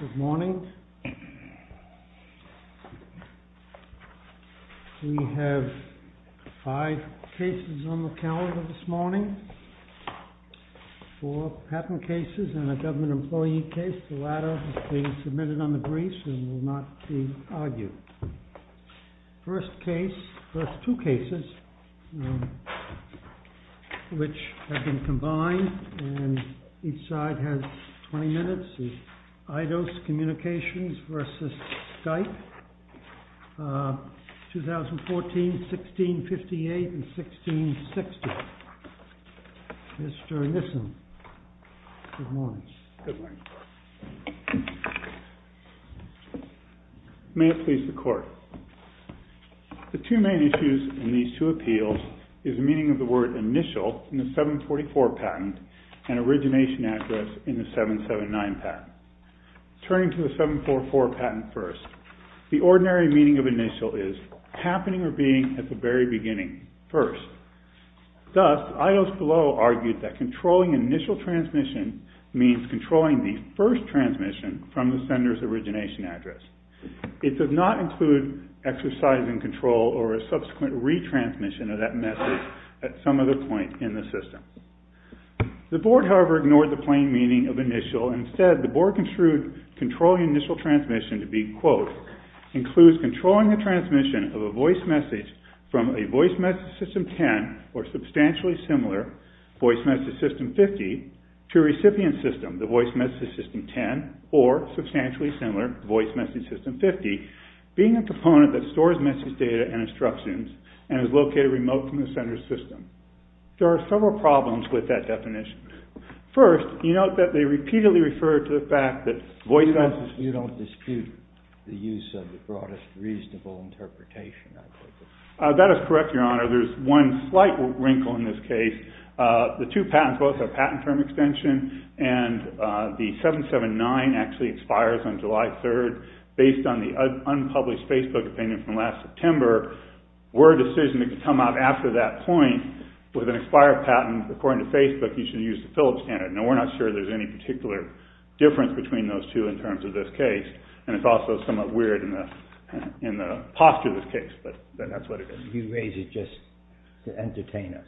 Good morning. We have five cases on the calendar this morning. Four patent cases and a government employee case. The latter has been submitted on the briefs and will not be argued. First two cases which have been combined and each side has 20 minutes. Eidos Communications versus Skype, 2014, 1658 and 1660. Mr. Nissen, good morning. May it please the court. The two main issues in these two appeals is the meaning of the word initial in the 744 patent and origination address in the 779 patent. Turning to the 744 patent first, the ordinary meaning of initial is happening or being at the very beginning, first. Thus, Eidos below argued that controlling initial transmission means controlling the first transmission from the sender's origination address. It does not include exercising control or a subsequent retransmission of that message at some other point in the system. The board, however, ignored the plain meaning of initial. Instead, the board construed controlling initial transmission to be, quote, includes controlling the transmission of a voice message from a voice message system 10 or substantially similar voice message system 50 to a recipient system, the voice message system 10 or substantially similar voice message system 50, being a component that stores message data and instructions and is located remote from the sender's system. There are several problems with that definition. First, you note that they repeatedly refer to the fact that voice message... That is correct, Your Honor. There's one slight wrinkle in this case. The two patents, both have patent term extension, and the 779 actually expires on July 3rd based on the unpublished Facebook opinion from last September. Word decision to come out after that point with an expired patent, according to Facebook, you should use the Phillips standard. Now, we're not sure there's any particular difference between those two in terms of this case, and it's also somewhat weird in the posture of this case, but that's what it is. You raise it just to entertain us.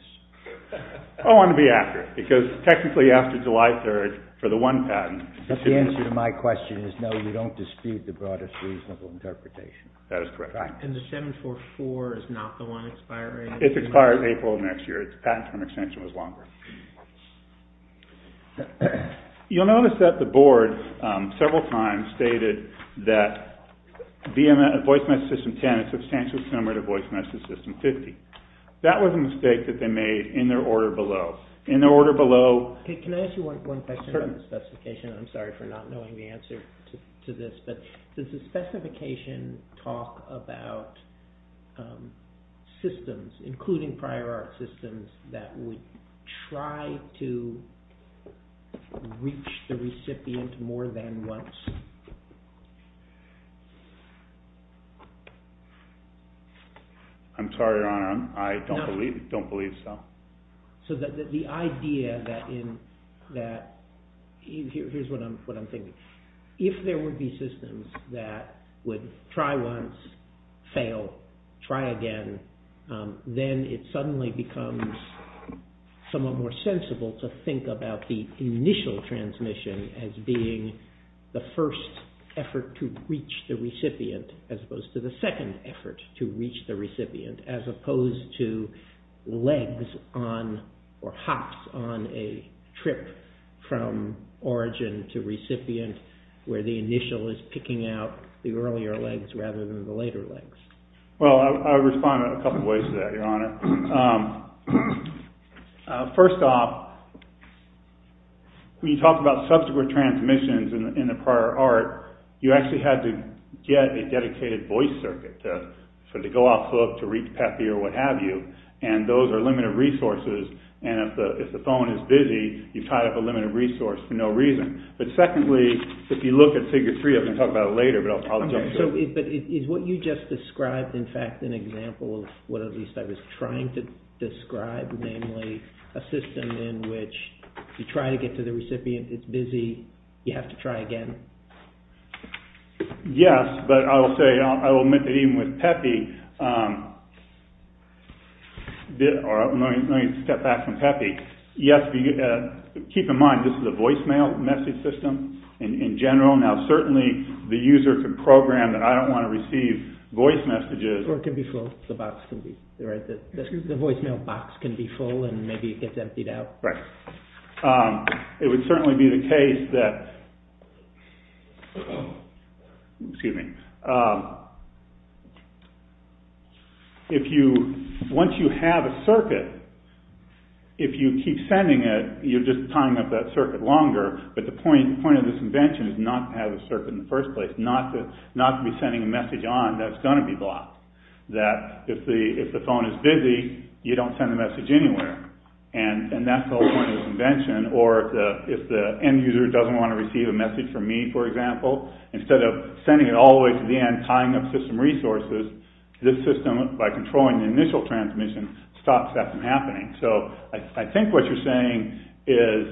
I want to be accurate, because technically after July 3rd for the one patent... But the answer to my question is no, you don't dispute the broadest reasonable interpretation. That is correct. And the 744 is not the one expiring? It expires April of next year. Its patent term extension was longer. You'll notice that the board several times stated that voice message system 10 is substantially similar to voice message system 50. That was a mistake that they made in their order below. In their order below... Can I ask you one question about the specification? I'm sorry for not knowing the answer to this, but does the specification talk about systems, including prior art systems, that would try to reach the recipient more than once? I'm sorry, Your Honor. I don't believe so. So the idea that... Here's what I'm thinking. If there would be systems that would try once, the initial transmission as being the first effort to reach the recipient, as opposed to the second effort to reach the recipient, as opposed to hops on a trip from origin to recipient, where the initial is picking out the earlier legs rather than the later legs. Well, I would respond in a couple of ways to that, Your Honor. First off, when you talk about subsequent transmissions in the prior art, you actually had to get a dedicated voice circuit to go off hook, to reach Pappy or what have you, and those are limited resources, and if the phone is busy, you've tied up a limited resource for no reason. But secondly, if you look at Figure 3, I'm going to talk about it later, but I'll jump to it. But is what you just described, in fact, an example of what at least I was trying to describe, namely a system in which you try to get to the recipient, it's busy, you have to try again? Yes, but I will say, I will admit that even with Pappy... Let me step back from Pappy. Yes, keep in mind, this is a voicemail message system in general. Now certainly the user can program that I don't want to receive voice messages... Or it can be full. The voicemail box can be full and maybe it gets emptied out. Right. It would certainly be the case that... Excuse me. Once you have a circuit, if you keep sending it, you're just tying up that circuit longer, but the point of this invention is not to have a circuit in the first place, not to be sending a message on that's going to be blocked. That if the phone is busy, you don't send a message anywhere. And that's the whole point of this invention. Or if the end user doesn't want to receive a message from me, for example, instead of sending it all the way to the end, tying up system resources, this system, by controlling the initial transmission, stops that from happening. So I think what you're saying is,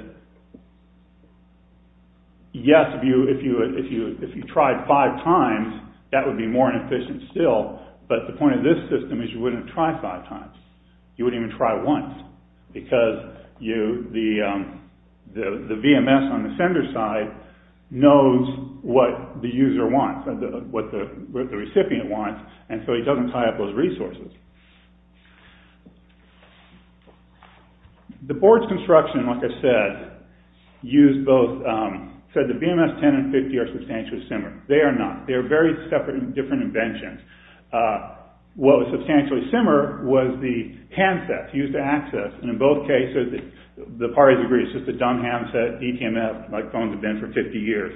yes, if you tried five times, that would be more efficient still, but the point of this system is you wouldn't try five times. You wouldn't even try once because the VMS on the sender side knows what the user wants, what the recipient wants, and so he doesn't tie up those resources. The board's construction, like I said, said the VMS 10 and 50 are substantially similar. They are not. They are very separate and different inventions. What was substantially similar was the handsets used to access, and in both cases, the parties agreed, it's just a dumb handset, DTMF, like phones have been for 50 years.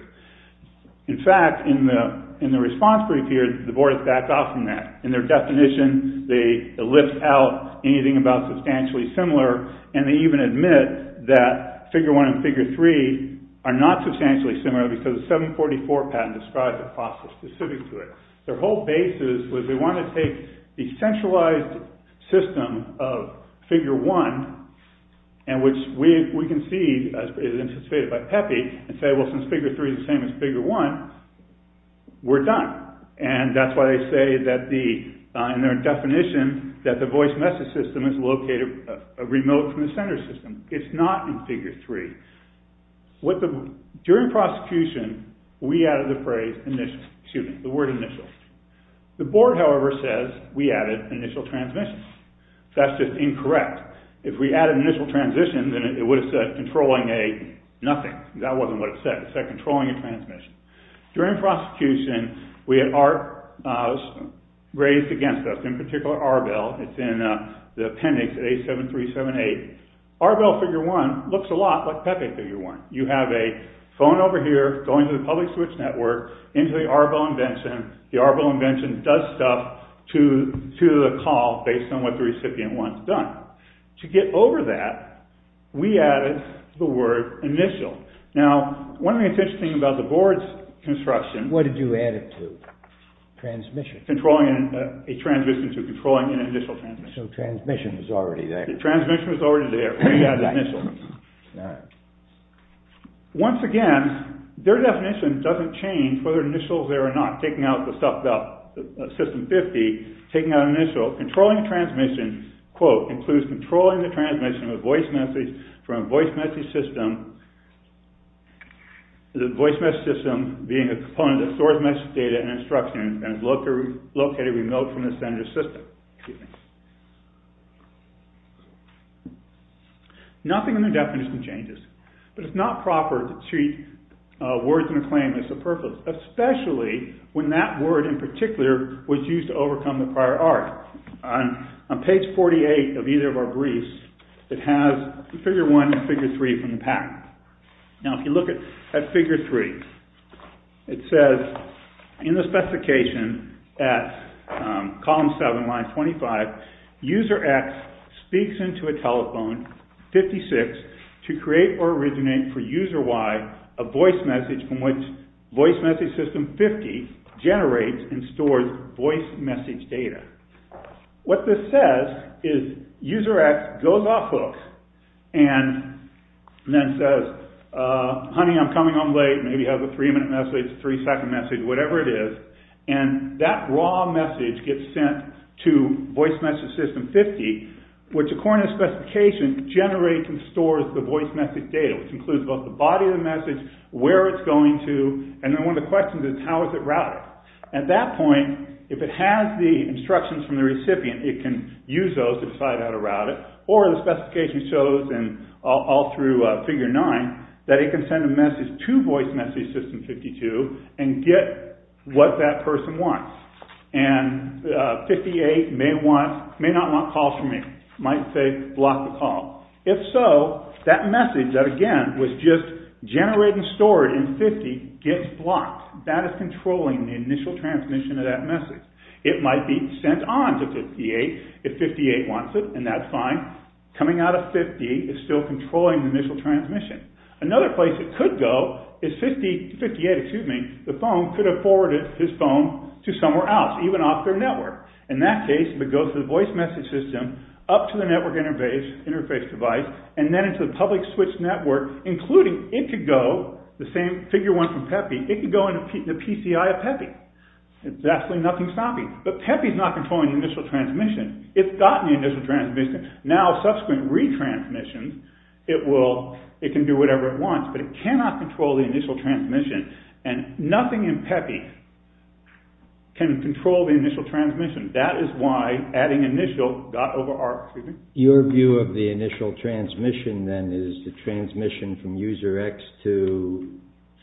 In fact, in the response period, the board backed off from that. In their definition, they lift out anything about substantially similar, and they even admit that Figure 1 and Figure 3 are not substantially similar because the 744 patent describes a process specific to it. Their whole basis was they wanted to take the centralized system of Figure 1, and which we can see is anticipated by Pepe, and say, well, since Figure 3 is the same as Figure 1, we're done. And that's why they say that the, in their definition, that the voice message system is located remote from the sender system. It's not in Figure 3. During prosecution, we added the phrase initial, excuse me, the word initial. The board, however, says we added initial transmission. That's just incorrect. If we added initial transition, then it would have said controlling a nothing. That wasn't what it said. It said controlling a transmission. During prosecution, we had raised against us, in particular, Arbel. It's in the appendix A7378. Arbel Figure 1 looks a lot like Pepe Figure 1. You have a phone over here going to the public switch network, into the Arbel invention. The Arbel invention does stuff to the call based on what the recipient wants done. To get over that, we added the word initial. Now, one of the interesting things about the board's construction... What did you add it to? Transmission. Controlling a transmission to controlling an initial transmission. So transmission was already there. Transmission was already there. We added initial. All right. Once again, their definition doesn't change whether initial is there or not. Taking out the stuff about System 50, taking out initial. Controlling a transmission, quote, includes controlling the transmission of voice message from a voice message system. The voice message system being a component that stores message data and instruction and is located remote from the sender's system. Nothing in their definition changes. But it's not proper to treat words in a claim as a purpose, especially when that word in particular was used to overcome the prior art. On page 48 of either of our briefs, it has Figure 1 and Figure 3 from the pack. Now, if you look at Figure 3, it says in the specification at column 7, line 25, user X speaks into a telephone, 56, to create or originate for user Y a voice message from which voice message system 50 generates and stores voice message data. What this says is user X goes off hook and then says, honey, I'm coming. I'm late. Maybe have a three-minute message, three-second message, whatever it is. And that raw message gets sent to voice message system 50, which according to the specification, generates and stores the voice message data, which includes both the body of the message, where it's going to, and then one of the questions is how is it routed? At that point, if it has the instructions from the recipient, it can use those to decide how to route it. Or the specification shows and all through Figure 9 that it can send a message to voice message system 52 and get what that person wants. And 58 may want, may not want calls from me, might say block the call. If so, that message that again was just generated and stored in 50 gets blocked. That is controlling the initial transmission of that message. It might be sent on to 58 if 58 wants it and that's fine. Coming out of 50 is still controlling the initial transmission. Another place it could go is 58, excuse me, the phone could have forwarded his phone to somewhere else, even off their network. In that case, if it goes to the voice message system, up to the network interface device and then into the public switch network, including it could go, the same Figure 1 from Pepe, it could go into the PCI of Pepe. There's absolutely nothing stopping. But Pepe is not controlling the initial transmission. It's gotten the initial transmission. Now, subsequent retransmissions, it can do whatever it wants. But it cannot control the initial transmission. And nothing in Pepe can control the initial transmission. That is why adding initial got overarched. Your view of the initial transmission then is the transmission from user X to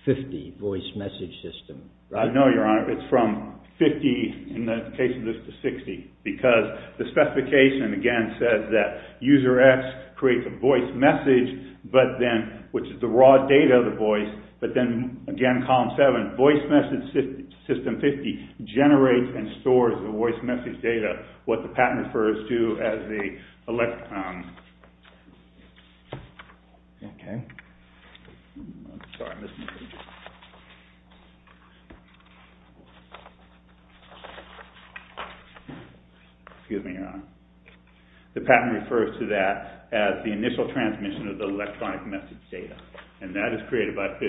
50, voice message system, right? No, Your Honor, it's from 50, in the case of this, to 60. Because the specification, again, says that user X creates a voice message, but then, which is the raw data of the voice, but then, again, Column 7, voice message system 50 generates and stores the voice message data, what the patent refers to as the electronic... Excuse me, Your Honor. The patent refers to that as the initial transmission of the electronic message data. And that is created by 50.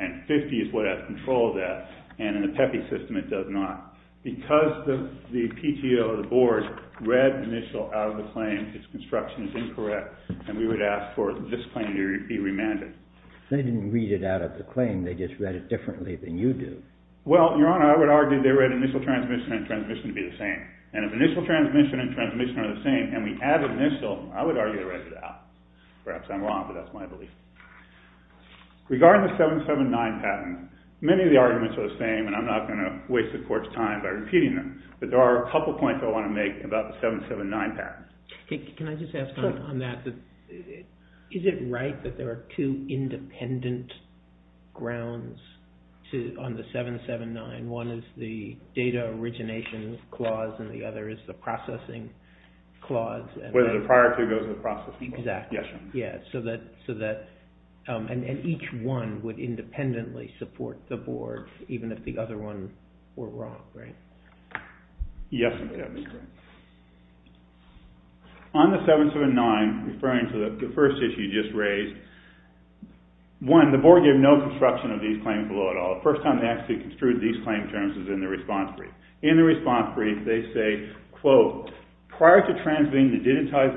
And 50 is what has control of that. And in the Pepe system, it does not. Because the PTO, the board, read initial out of the claim, its construction is incorrect, and we would ask for this claim to be remanded. They didn't read it out of the claim. They just read it differently than you do. Well, Your Honor, I would argue they read initial transmission and transmission to be the same. And if initial transmission and transmission are the same, and we add initial, I would argue they read it out. Perhaps I'm wrong, but that's my belief. Regarding the 779 patent, many of the arguments are the same, and I'm not going to waste the Court's time by repeating them. But there are a couple of points I want to make about the 779 patent. Can I just ask on that? Is it right that there are two independent grounds on the 779? One is the data origination clause, and the other is the processing clause? Exactly. And each one would independently support the board, even if the other one were wrong, right? Yes, that would be correct. On the 779, referring to the first issue you just raised, one, the board gave no construction of these claims below at all. The first time they actually construed these claim terms is in the response brief. In the response brief, they say, quote, This argument is wrong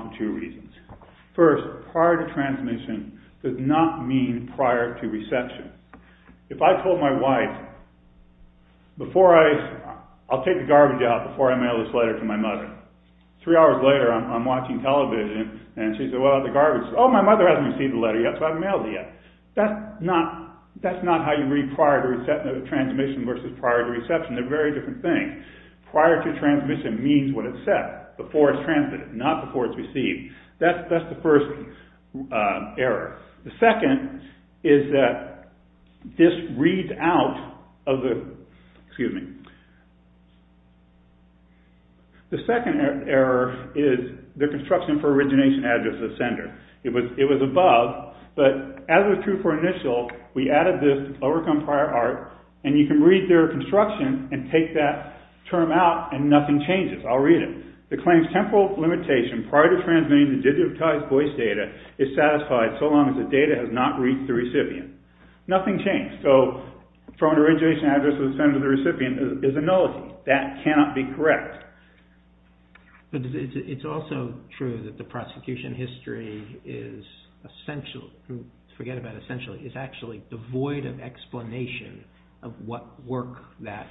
for two reasons. First, prior to transmission does not mean prior to reception. If I told my wife, I'll take the garbage out before I mail this letter to my mother. Three hours later, I'm watching television, and she said, Oh, my mother hasn't received the letter yet, so I haven't mailed it yet. That's not how you read prior to transmission versus prior to reception. They're very different things. Prior to transmission means what it said. Before it's transmitted, not before it's received. That's the first error. The second is that this reads out of the... Excuse me. The second error is the construction for origination address of sender. It was above, but as was true for initial, we added this to overcome prior art, and you can read their construction and take that term out, and nothing changes. I'll read it. The claim's temporal limitation prior to transmitting the digitized voice data is satisfied so long as the data has not reached the recipient. Nothing changed. Prior to origination address of the sender, the recipient is a nullity. That cannot be correct. It's also true that the prosecution history is essential. Forget about essential. It's actually devoid of explanation of what work that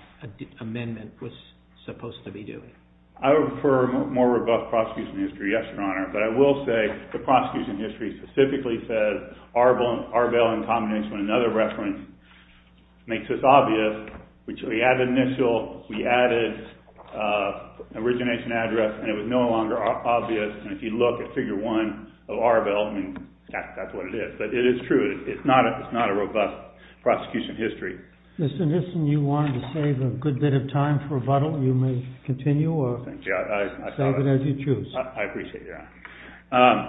amendment was supposed to be doing. I would prefer a more robust prosecution history, yes, Your Honor, but I will say the prosecution history specifically says ARBEL in combination with another reference makes this obvious, which we added initial, we added origination address, and it was no longer obvious. And if you look at Figure 1 of ARBEL, I mean, that's what it is. But it is true. It's not a robust prosecution history. Mr. Nissen, you wanted to save a good bit of time for rebuttal. I appreciate it, Your Honor.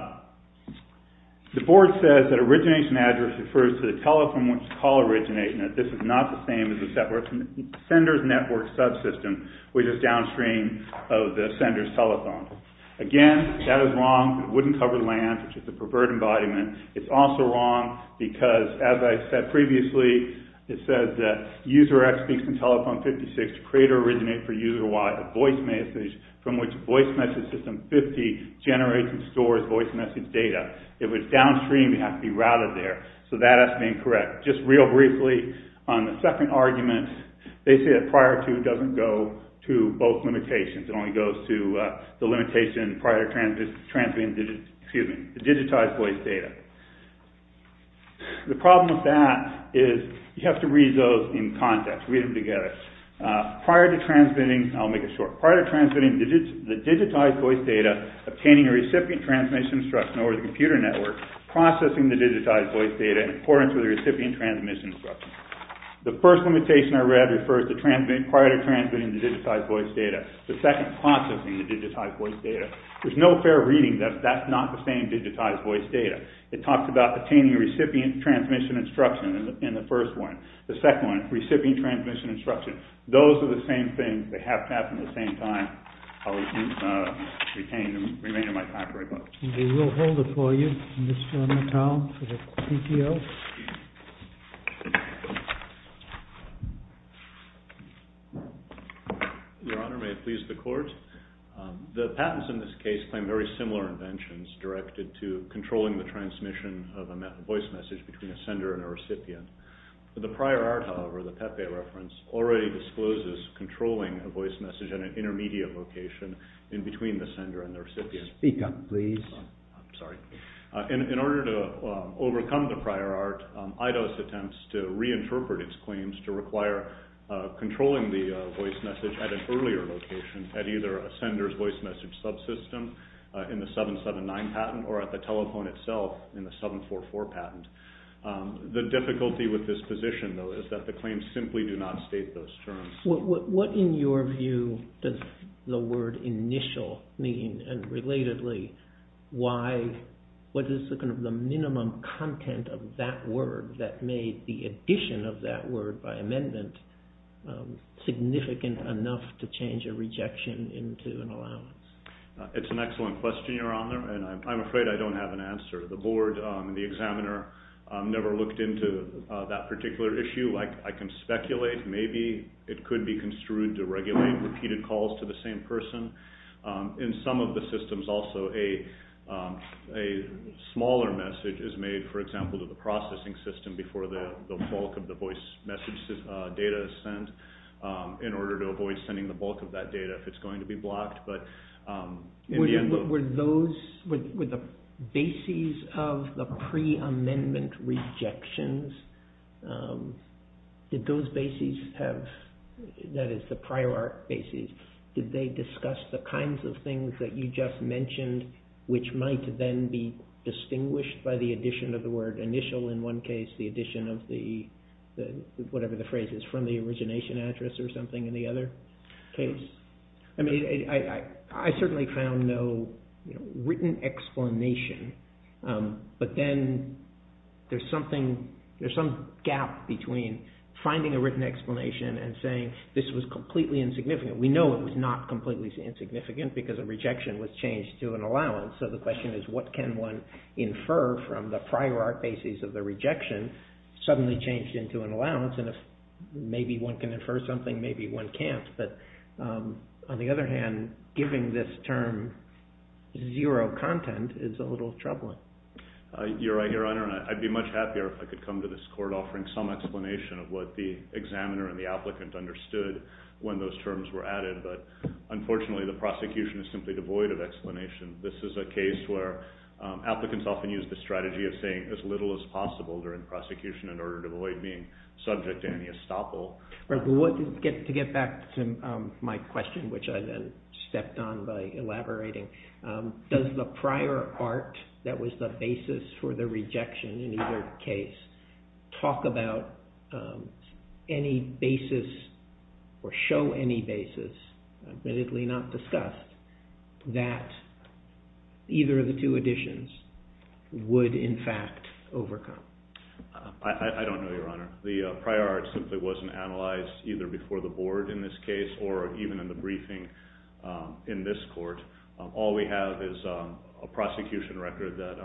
The board says that origination address refers to the telephone which is called origination. This is not the same as the sender's network subsystem, which is downstream of the sender's telethon. Again, that is wrong. It wouldn't cover the land, which is a perverted embodiment. It's also wrong because, as I said previously, it says that user X speaks in telephone 56, creator originate for user Y, from which voice message system 50 generates and stores voice message data. If it's downstream, it has to be routed there. So that has to be incorrect. Just real briefly, on the second argument, they say that prior to doesn't go to both limitations. It only goes to the limitation prior to transmitting the digitized voice data. The problem with that is you have to read those in context, read them together. Prior to transmitting, I'll make it shorter. Prior to transmitting the digitized voice data, obtaining a recipient transmission instruction over the computer network, processing the digitized voice data in accordance with the recipient transmission instruction. The first limitation I read refers to prior to transmitting the digitized voice data. The second, processing the digitized voice data. There's no fair reading if that's not the same digitized voice data. It talks about attaining recipient transmission instruction in the first one. The second one, recipient transmission instruction. Those are the same things. They have to happen at the same time. I'll retain them, remain in my factory book. We will hold it for you. Mr. Natal for the PTO. Your Honor, may it please the Court. The patents in this case claim very similar inventions directed to controlling the transmission of a voice message between a sender and a recipient. The prior art, however, the Pepe reference, already discloses controlling a voice message in an intermediate location in between the sender and the recipient. Speak up, please. I'm sorry. In order to overcome the prior art, IDOS attempts to reinterpret its claims to require controlling the voice message at an earlier location, at either a sender's voice message subsystem in the 779 patent or at the telephone itself in the 744 patent. The difficulty with this position, though, is that the claims simply do not state those terms. What, in your view, does the word initial mean? And, relatedly, what is the minimum content of that word that made the addition of that word by amendment significant enough to change a rejection into an allowance? It's an excellent question, Your Honor, and I'm afraid I don't have an answer. The board and the examiner never looked into that particular issue. I can speculate. Maybe it could be construed to regulate repeated calls to the same person. In some of the systems, also, a smaller message is made, for example, to the processing system before the bulk of the voice message data is sent, in order to avoid sending the bulk of that data if it's going to be blocked. Were the bases of the pre-amendment rejections, did those bases have, that is the prior art bases, did they discuss the kinds of things that you just mentioned, which might then be distinguished by the addition of the word initial in one case, the addition of the, whatever the phrase is, from the origination address or something in the other case? I mean, I certainly found no written explanation, but then there's something, there's some gap between finding a written explanation and saying this was completely insignificant. We know it was not completely insignificant because a rejection was changed to an allowance, so the question is what can one infer from the prior art bases of the rejection suddenly changed into an allowance, and if maybe one can infer something, maybe one can't, but on the other hand, giving this term zero content is a little troubling. You're right, Your Honor, and I'd be much happier if I could come to this court offering some explanation of what the examiner and the applicant understood when those terms were added, but unfortunately the prosecution is simply devoid of explanation. This is a case where applicants often use the strategy of saying as little as possible during prosecution in order to avoid being subject to any estoppel. To get back to my question, which I then stepped on by elaborating, does the prior art that was the basis for the rejection in either case talk about any basis or show any basis, admittedly not discussed, that either of the two additions would in fact overcome? I don't know, Your Honor. The prior art simply wasn't analyzed either before the board in this case or even in the briefing in this court. All we have is a prosecution record that,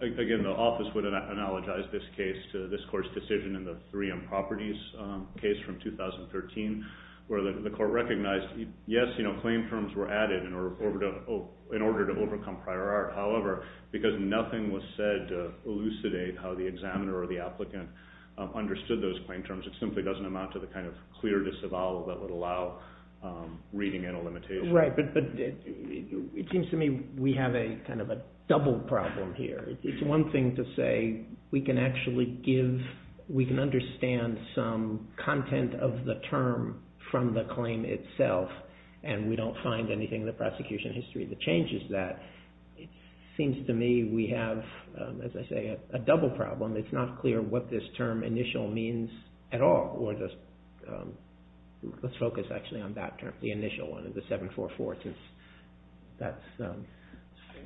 again, the office would analogize this case to this court's decision in the Three Improperties case from 2013 where the court recognized, yes, claim terms were added in order to overcome prior art. However, because nothing was said to elucidate how the examiner or the applicant understood those claim terms, it simply doesn't amount to the kind of clear disavowal that would allow reading and elimination. Right, but it seems to me we have kind of a double problem here. It's one thing to say we can actually give, we can understand some content of the term from the claim itself and we don't find anything in the prosecution history that changes that. It seems to me we have, as I say, a double problem. It's not clear what this term initial means at all. Let's focus actually on that term, the initial one, the 744 since that's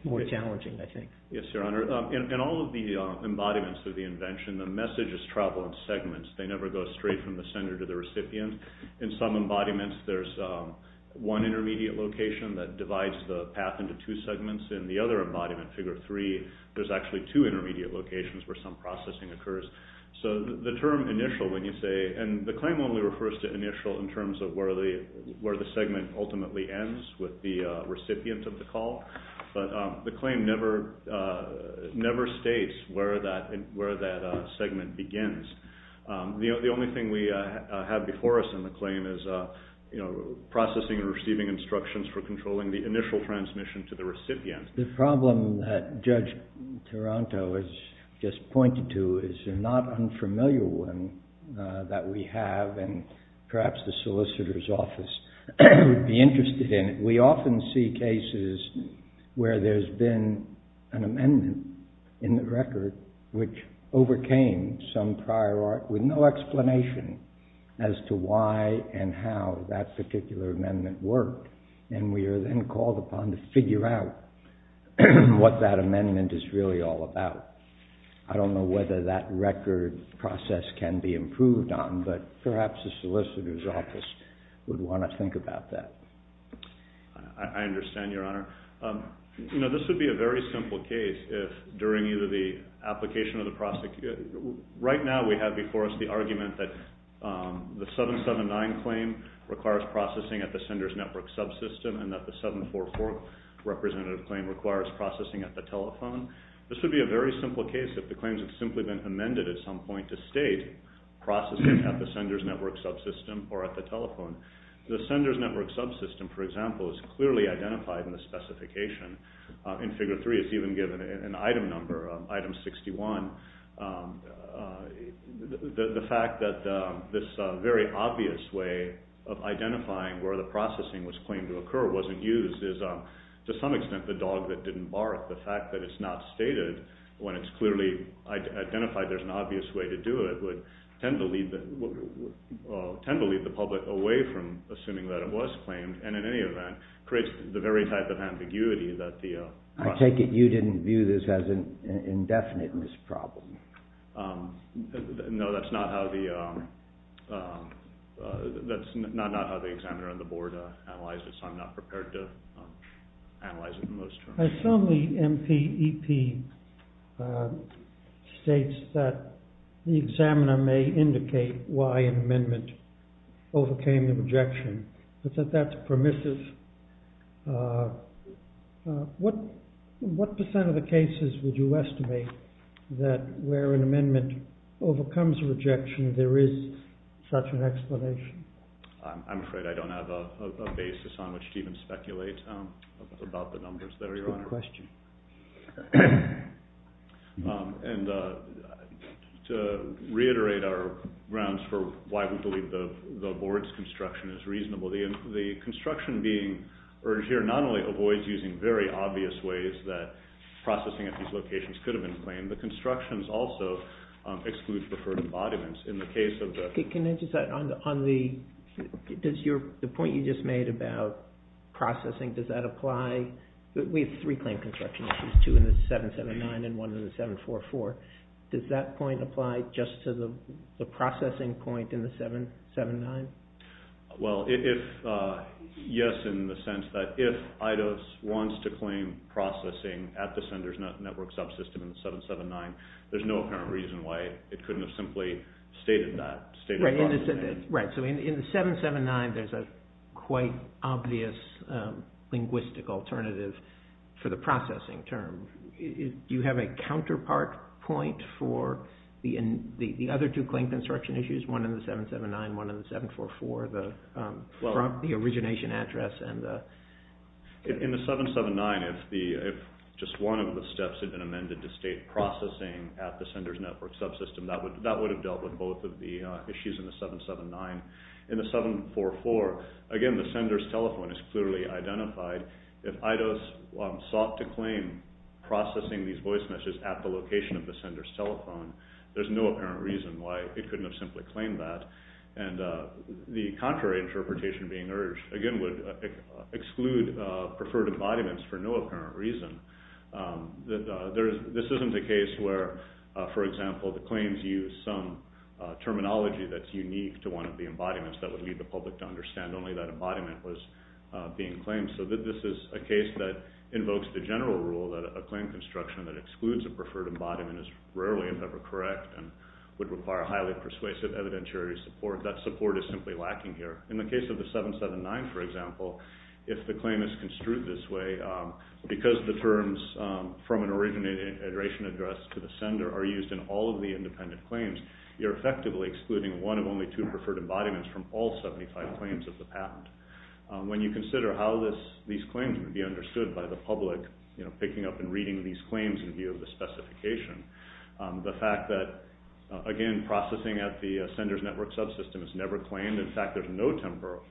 more challenging, I think. Yes, Your Honor. In all of the embodiments of the invention, the message is traveled in segments. They never go straight from the sender to the recipient. In some embodiments, there's one intermediate location that divides the path into two segments. In the other embodiment, figure three, there's actually two intermediate locations where some processing occurs. So the term initial, when you say, and the claim only refers to initial in terms of where the segment ultimately ends with the recipient of the call, but the claim never states where that segment begins. The only thing we have before us in the claim is processing and receiving instructions for controlling the initial transmission to the recipient. The problem that Judge Taranto has just pointed to is a not unfamiliar one that we have and perhaps the solicitor's office would be interested in. We often see cases where there's been an amendment in the record which overcame some prior art with no explanation as to why and how that particular amendment worked. And we are then called upon to figure out what that amendment is really all about. I don't know whether that record process can be improved on, but perhaps the solicitor's office would want to think about that. I understand, Your Honor. This would be a very simple case if during either the application or the prosecution, right now we have before us the argument that the 779 claim requires processing at the sender's network subsystem and that the 744 representative claim requires processing at the telephone. This would be a very simple case if the claims had simply been amended at some point to state processing at the sender's network subsystem or at the telephone. The sender's network subsystem, for example, is clearly identified in the specification. In Figure 3 it's even given an item number, item 61. The fact that this very obvious way of identifying where the processing was claimed to occur wasn't used is to some extent the dog that didn't bark. The fact that it's not stated when it's clearly identified there's an obvious way to do it would tend to lead the public away from assuming that it was claimed and in any event creates the very type of ambiguity that the... I take it you didn't view this as an indefiniteness problem. No, that's not how the examiner on the board analyzed it, so I'm not prepared to analyze it in those terms. I assume the MPEP states that the examiner may indicate why an amendment overcame the rejection, but that that's permissive. What percent of the cases would you estimate that where an amendment overcomes a rejection there is such an explanation? I'm afraid I don't have a basis on which to even speculate about the numbers there, Your Honor. That's a good question. To reiterate our grounds for why we believe the board's construction is reasonable, the construction being urged here not only avoids using very obvious ways that processing at these locations could have been claimed, the constructions also exclude preferred embodiments in the case of... Can I just add on the point you just made about processing, does that apply? We have three claim construction issues, two in the 779 and one in the 744. Does that point apply just to the processing point in the 779? Well, yes, in the sense that if IDOS wants to claim processing at the sender's network subsystem in the 779, there's no apparent reason why it couldn't have simply stated that. Right, so in the 779 there's a quite obvious linguistic alternative for the processing term. Do you have a counterpart point for the other two claim construction issues, one in the 779, one in the 744, the origination address? In the 779, if just one of the steps had been amended to state processing at the sender's network subsystem, that would have dealt with both of the issues in the 779. In the 744, again, the sender's telephone is clearly identified. If IDOS sought to claim processing these voice messages at the location of the sender's telephone, there's no apparent reason why it couldn't have simply claimed that. And the contrary interpretation being urged, again, would exclude preferred embodiments for no apparent reason. This isn't a case where, for example, the claims use some terminology that's unique to one of the embodiments that would lead the public to understand only that embodiment was being claimed. So this is a case that invokes the general rule that a claim construction that excludes a preferred embodiment is rarely, if ever, correct and would require highly persuasive evidentiary support. That support is simply lacking here. In the case of the 779, for example, if the claim is construed this way, because the terms from an origination address to the sender are used in all of the independent claims, you're effectively excluding one of only two preferred embodiments from all 75 claims of the patent. When you consider how these claims would be understood by the public, picking up and reading these claims in view of the specification, the fact that, again, processing at the sender's network subsystem is never claimed. In fact, there's no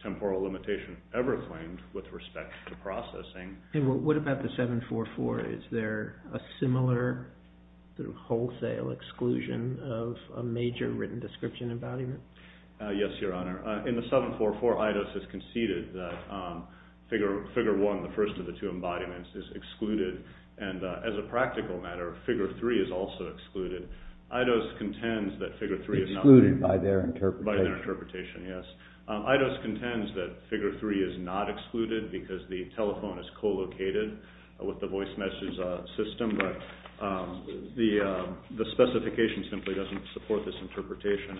temporal limitation ever claimed with respect to processing. What about the 744? Is there a similar wholesale exclusion of a major written description embodiment? Yes, Your Honor. In the 744, Eidos has conceded that figure one, the first of the two embodiments, is excluded, and as a practical matter, figure three is also excluded. Eidos contends that figure three is not- Excluded by their interpretation. By their interpretation, yes. Eidos contends that figure three is not excluded because the telephone is co-located with the voice message system, but the specification simply doesn't support this interpretation.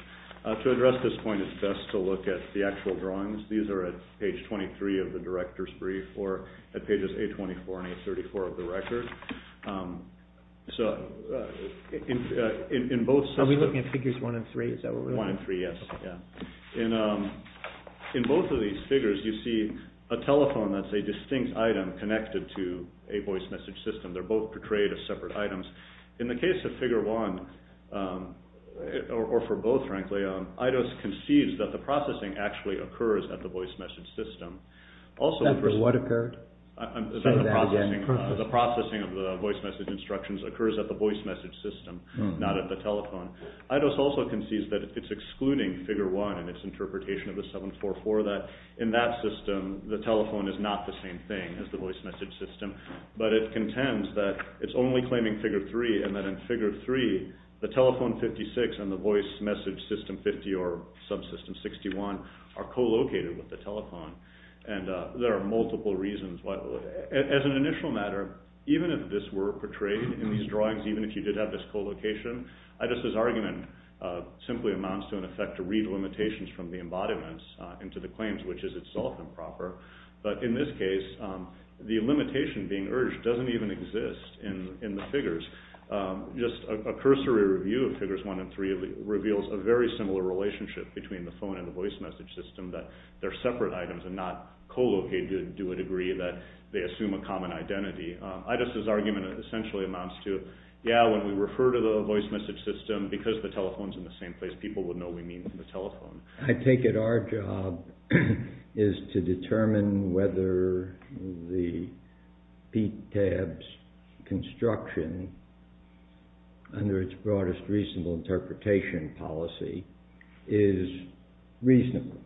To address this point, it's best to look at the actual drawings. These are at page 23 of the director's brief or at pages 824 and 834 of the record. Are we looking at figures one and three? One and three, yes. In both of these figures, you see a telephone that's a distinct item connected to a voice message system. They're both portrayed as separate items. In the case of figure one, or for both, frankly, Eidos concedes that the processing actually occurs at the voice message system. Except for what occurred? The processing of the voice message instructions occurs at the voice message system, not at the telephone. Eidos also concedes that it's excluding figure one and its interpretation of the 744, that in that system, the telephone is not the same thing as the voice message system, but it contends that it's only claiming figure three and that in figure three, the telephone 56 and the voice message system 50 or subsystem 61 are co-located with the telephone. There are multiple reasons. As an initial matter, even if this were portrayed in these drawings, even if you did have this co-location, Eidos' argument simply amounts to an effect to read limitations from the embodiments into the claims, which is itself improper. But in this case, the limitation being urged doesn't even exist in the figures. Just a cursory review of figures one and three reveals a very similar relationship between the phone and the voice message system, that they're separate items and not co-located to a degree that they assume a common identity. Eidos' argument essentially amounts to, yeah, when we refer to the voice message system, because the telephone's in the same place, people would know we mean the telephone. I take it our job is to determine whether the PTAB's construction, under its broadest reasonable interpretation policy, is reasonable.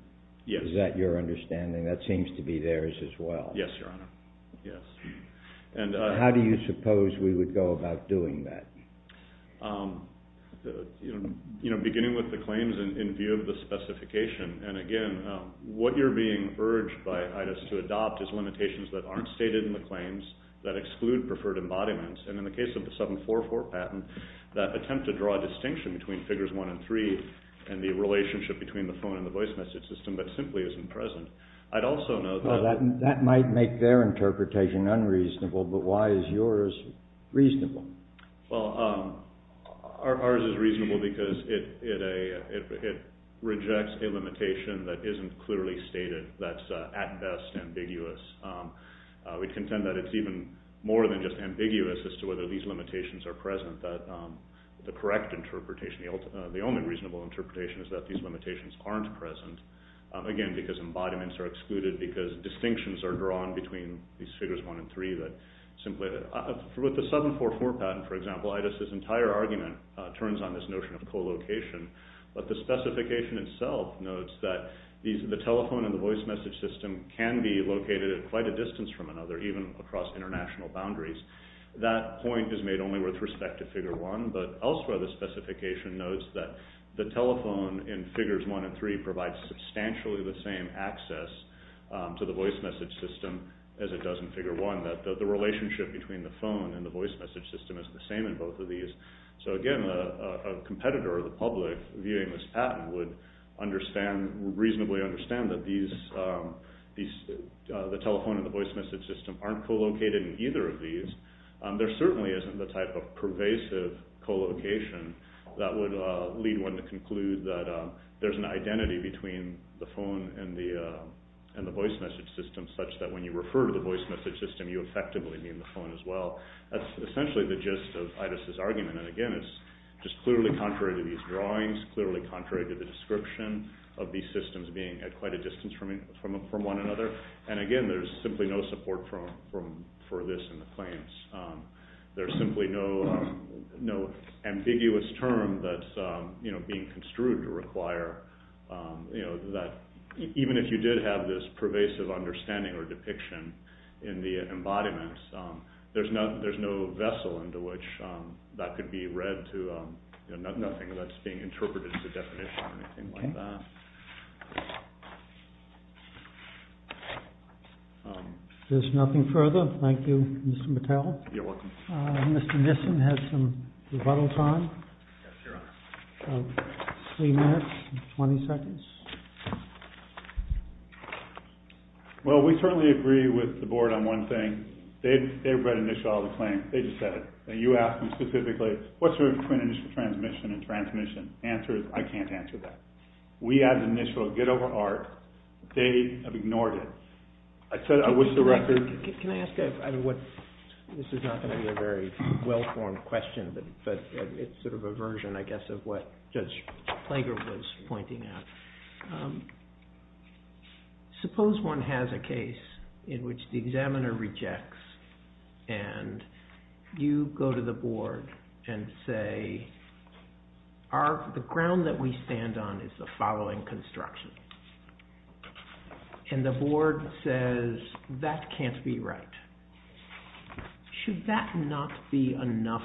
Yes. Is that your understanding? That seems to be theirs as well. Yes, Your Honor. Yes. How do you suppose we would go about doing that? You know, beginning with the claims in view of the specification, and again, what you're being urged by Eidos to adopt is limitations that aren't stated in the claims, that exclude preferred embodiments, and in the case of the 744 patent, that attempt to draw a distinction between figures one and three and the relationship between the phone and the voice message system that simply isn't present. I'd also note that... Well, that might make their interpretation unreasonable, but why is yours reasonable? Well, ours is reasonable because it rejects a limitation that isn't clearly stated, that's at best ambiguous. We contend that it's even more than just ambiguous as to whether these limitations are present, that the correct interpretation, the only reasonable interpretation, is that these limitations aren't present, again, because embodiments are excluded, because distinctions are drawn between these figures one and three that simply... With the 744 patent, for example, Eidos' entire argument turns on this notion of co-location, but the specification itself notes that the telephone and the voice message system can be located at quite a distance from another, even across international boundaries. That point is made only with respect to figure one, but elsewhere the specification notes that the telephone in figures one and three provides substantially the same access to the voice message system as it does in figure one, that the relationship between the phone and the voice message system is the same in both of these. So, again, a competitor of the public viewing this patent would reasonably understand that the telephone and the voice message system aren't co-located in either of these. There certainly isn't the type of pervasive co-location that would lead one to conclude that there's an identity between the phone and the voice message system, such that when you refer to the voice message system, you effectively mean the phone as well. That's essentially the gist of Eidos' argument. And, again, it's just clearly contrary to these drawings, clearly contrary to the description of these systems being at quite a distance from one another. And, again, there's simply no support for this in the claims. There's simply no ambiguous term that's being construed to require that, even if you did have this pervasive understanding or depiction in the embodiments, there's no vessel into which that could be read to, nothing that's being interpreted as a definition or anything like that. There's nothing further. Thank you, Mr. Mattel. You're welcome. Mr. Nissen has some rebuttal time. Yes, Your Honor. Three minutes and 20 seconds. Well, we certainly agree with the Board on one thing. They read the initial of the claim. They just said it. You asked me specifically, what's the difference between initial transmission and transmission? The answer is I can't answer that. We had an initial get-over-art. They have ignored it. I said I wish the record— Can I ask a—this is not going to be a very well-formed question, but it's sort of a version, I guess, of what Judge Plager was pointing out. Suppose one has a case in which the examiner rejects, and you go to the Board and say, the ground that we stand on is the following construction. And the Board says, that can't be right. Should that not be enough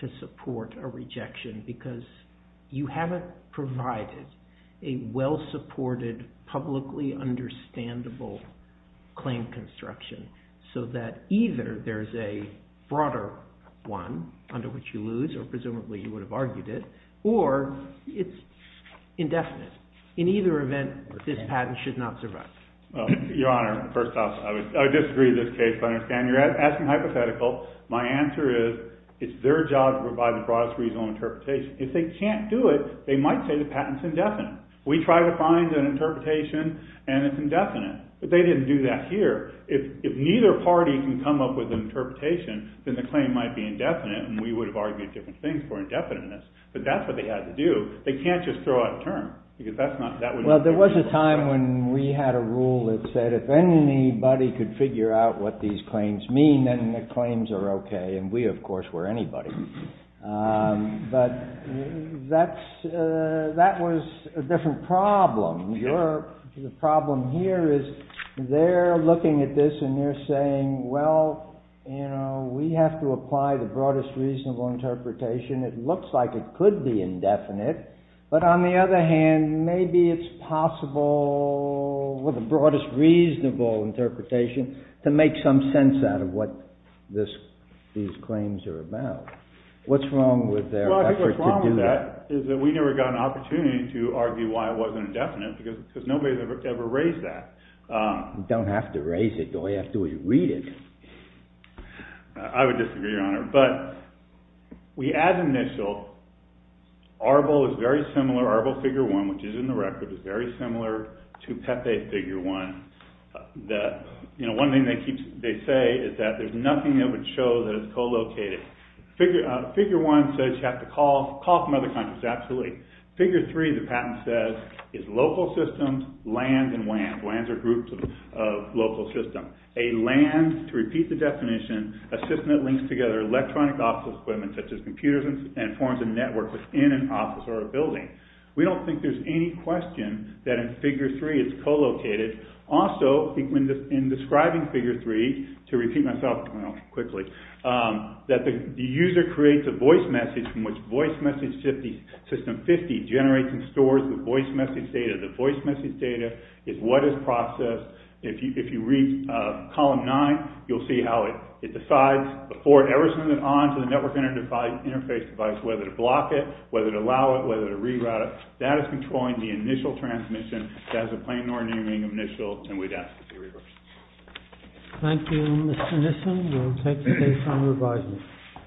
to support a rejection? Because you haven't provided a well-supported, publicly understandable claim construction so that either there's a broader one under which you lose, or presumably you would have argued it, or it's indefinite. In either event, this patent should not survive. Your Honor, first off, I disagree with this case. I understand you're asking hypothetical. My answer is it's their job to provide the broadest reasonable interpretation. If they can't do it, they might say the patent's indefinite. We tried to find an interpretation, and it's indefinite. But they didn't do that here. If neither party can come up with an interpretation, then the claim might be indefinite, and we would have argued different things for indefiniteness. But that's what they had to do. They can't just throw out a term, because that's not— Well, there was a time when we had a rule that said if anybody could figure out what these claims mean, then the claims are okay. And we, of course, were anybody. But that was a different problem. The problem here is they're looking at this, and they're saying, well, you know, we have to apply the broadest reasonable interpretation. It looks like it could be indefinite. But on the other hand, maybe it's possible with the broadest reasonable interpretation to make some sense out of what these claims are about. What's wrong with their effort to do that? Well, I think what's wrong with that is that we never got an opportunity to argue why it wasn't indefinite, because nobody's ever raised that. We don't have to raise it. I would disagree, Your Honor. But we add initial. Arbol is very similar. Arbol Figure 1, which is in the record, is very similar to Pepe Figure 1. You know, one thing they say is that there's nothing that would show that it's co-located. Figure 1 says you have to call from other countries. Absolutely. Figure 3, the patent says, is local systems, land, and WANs. WANs are groups of local systems. A land, to repeat the definition, a system that links together electronic office equipment such as computers and forms a network within an office or a building. We don't think there's any question that in Figure 3 it's co-located. Also, in describing Figure 3, to repeat myself quickly, that the user creates a voice message from which voice message system 50 generates and stores the voice message data. The voice message data is what is processed. If you read Column 9, you'll see how it decides, before it ever sends it on to the network interface device, whether to block it, whether to allow it, whether to reroute it. That is controlling the initial transmission. That is a plain ordering of initials. And we'd ask that it be reversed. Thank you, Mr. Nissen. We'll take the case under advisement.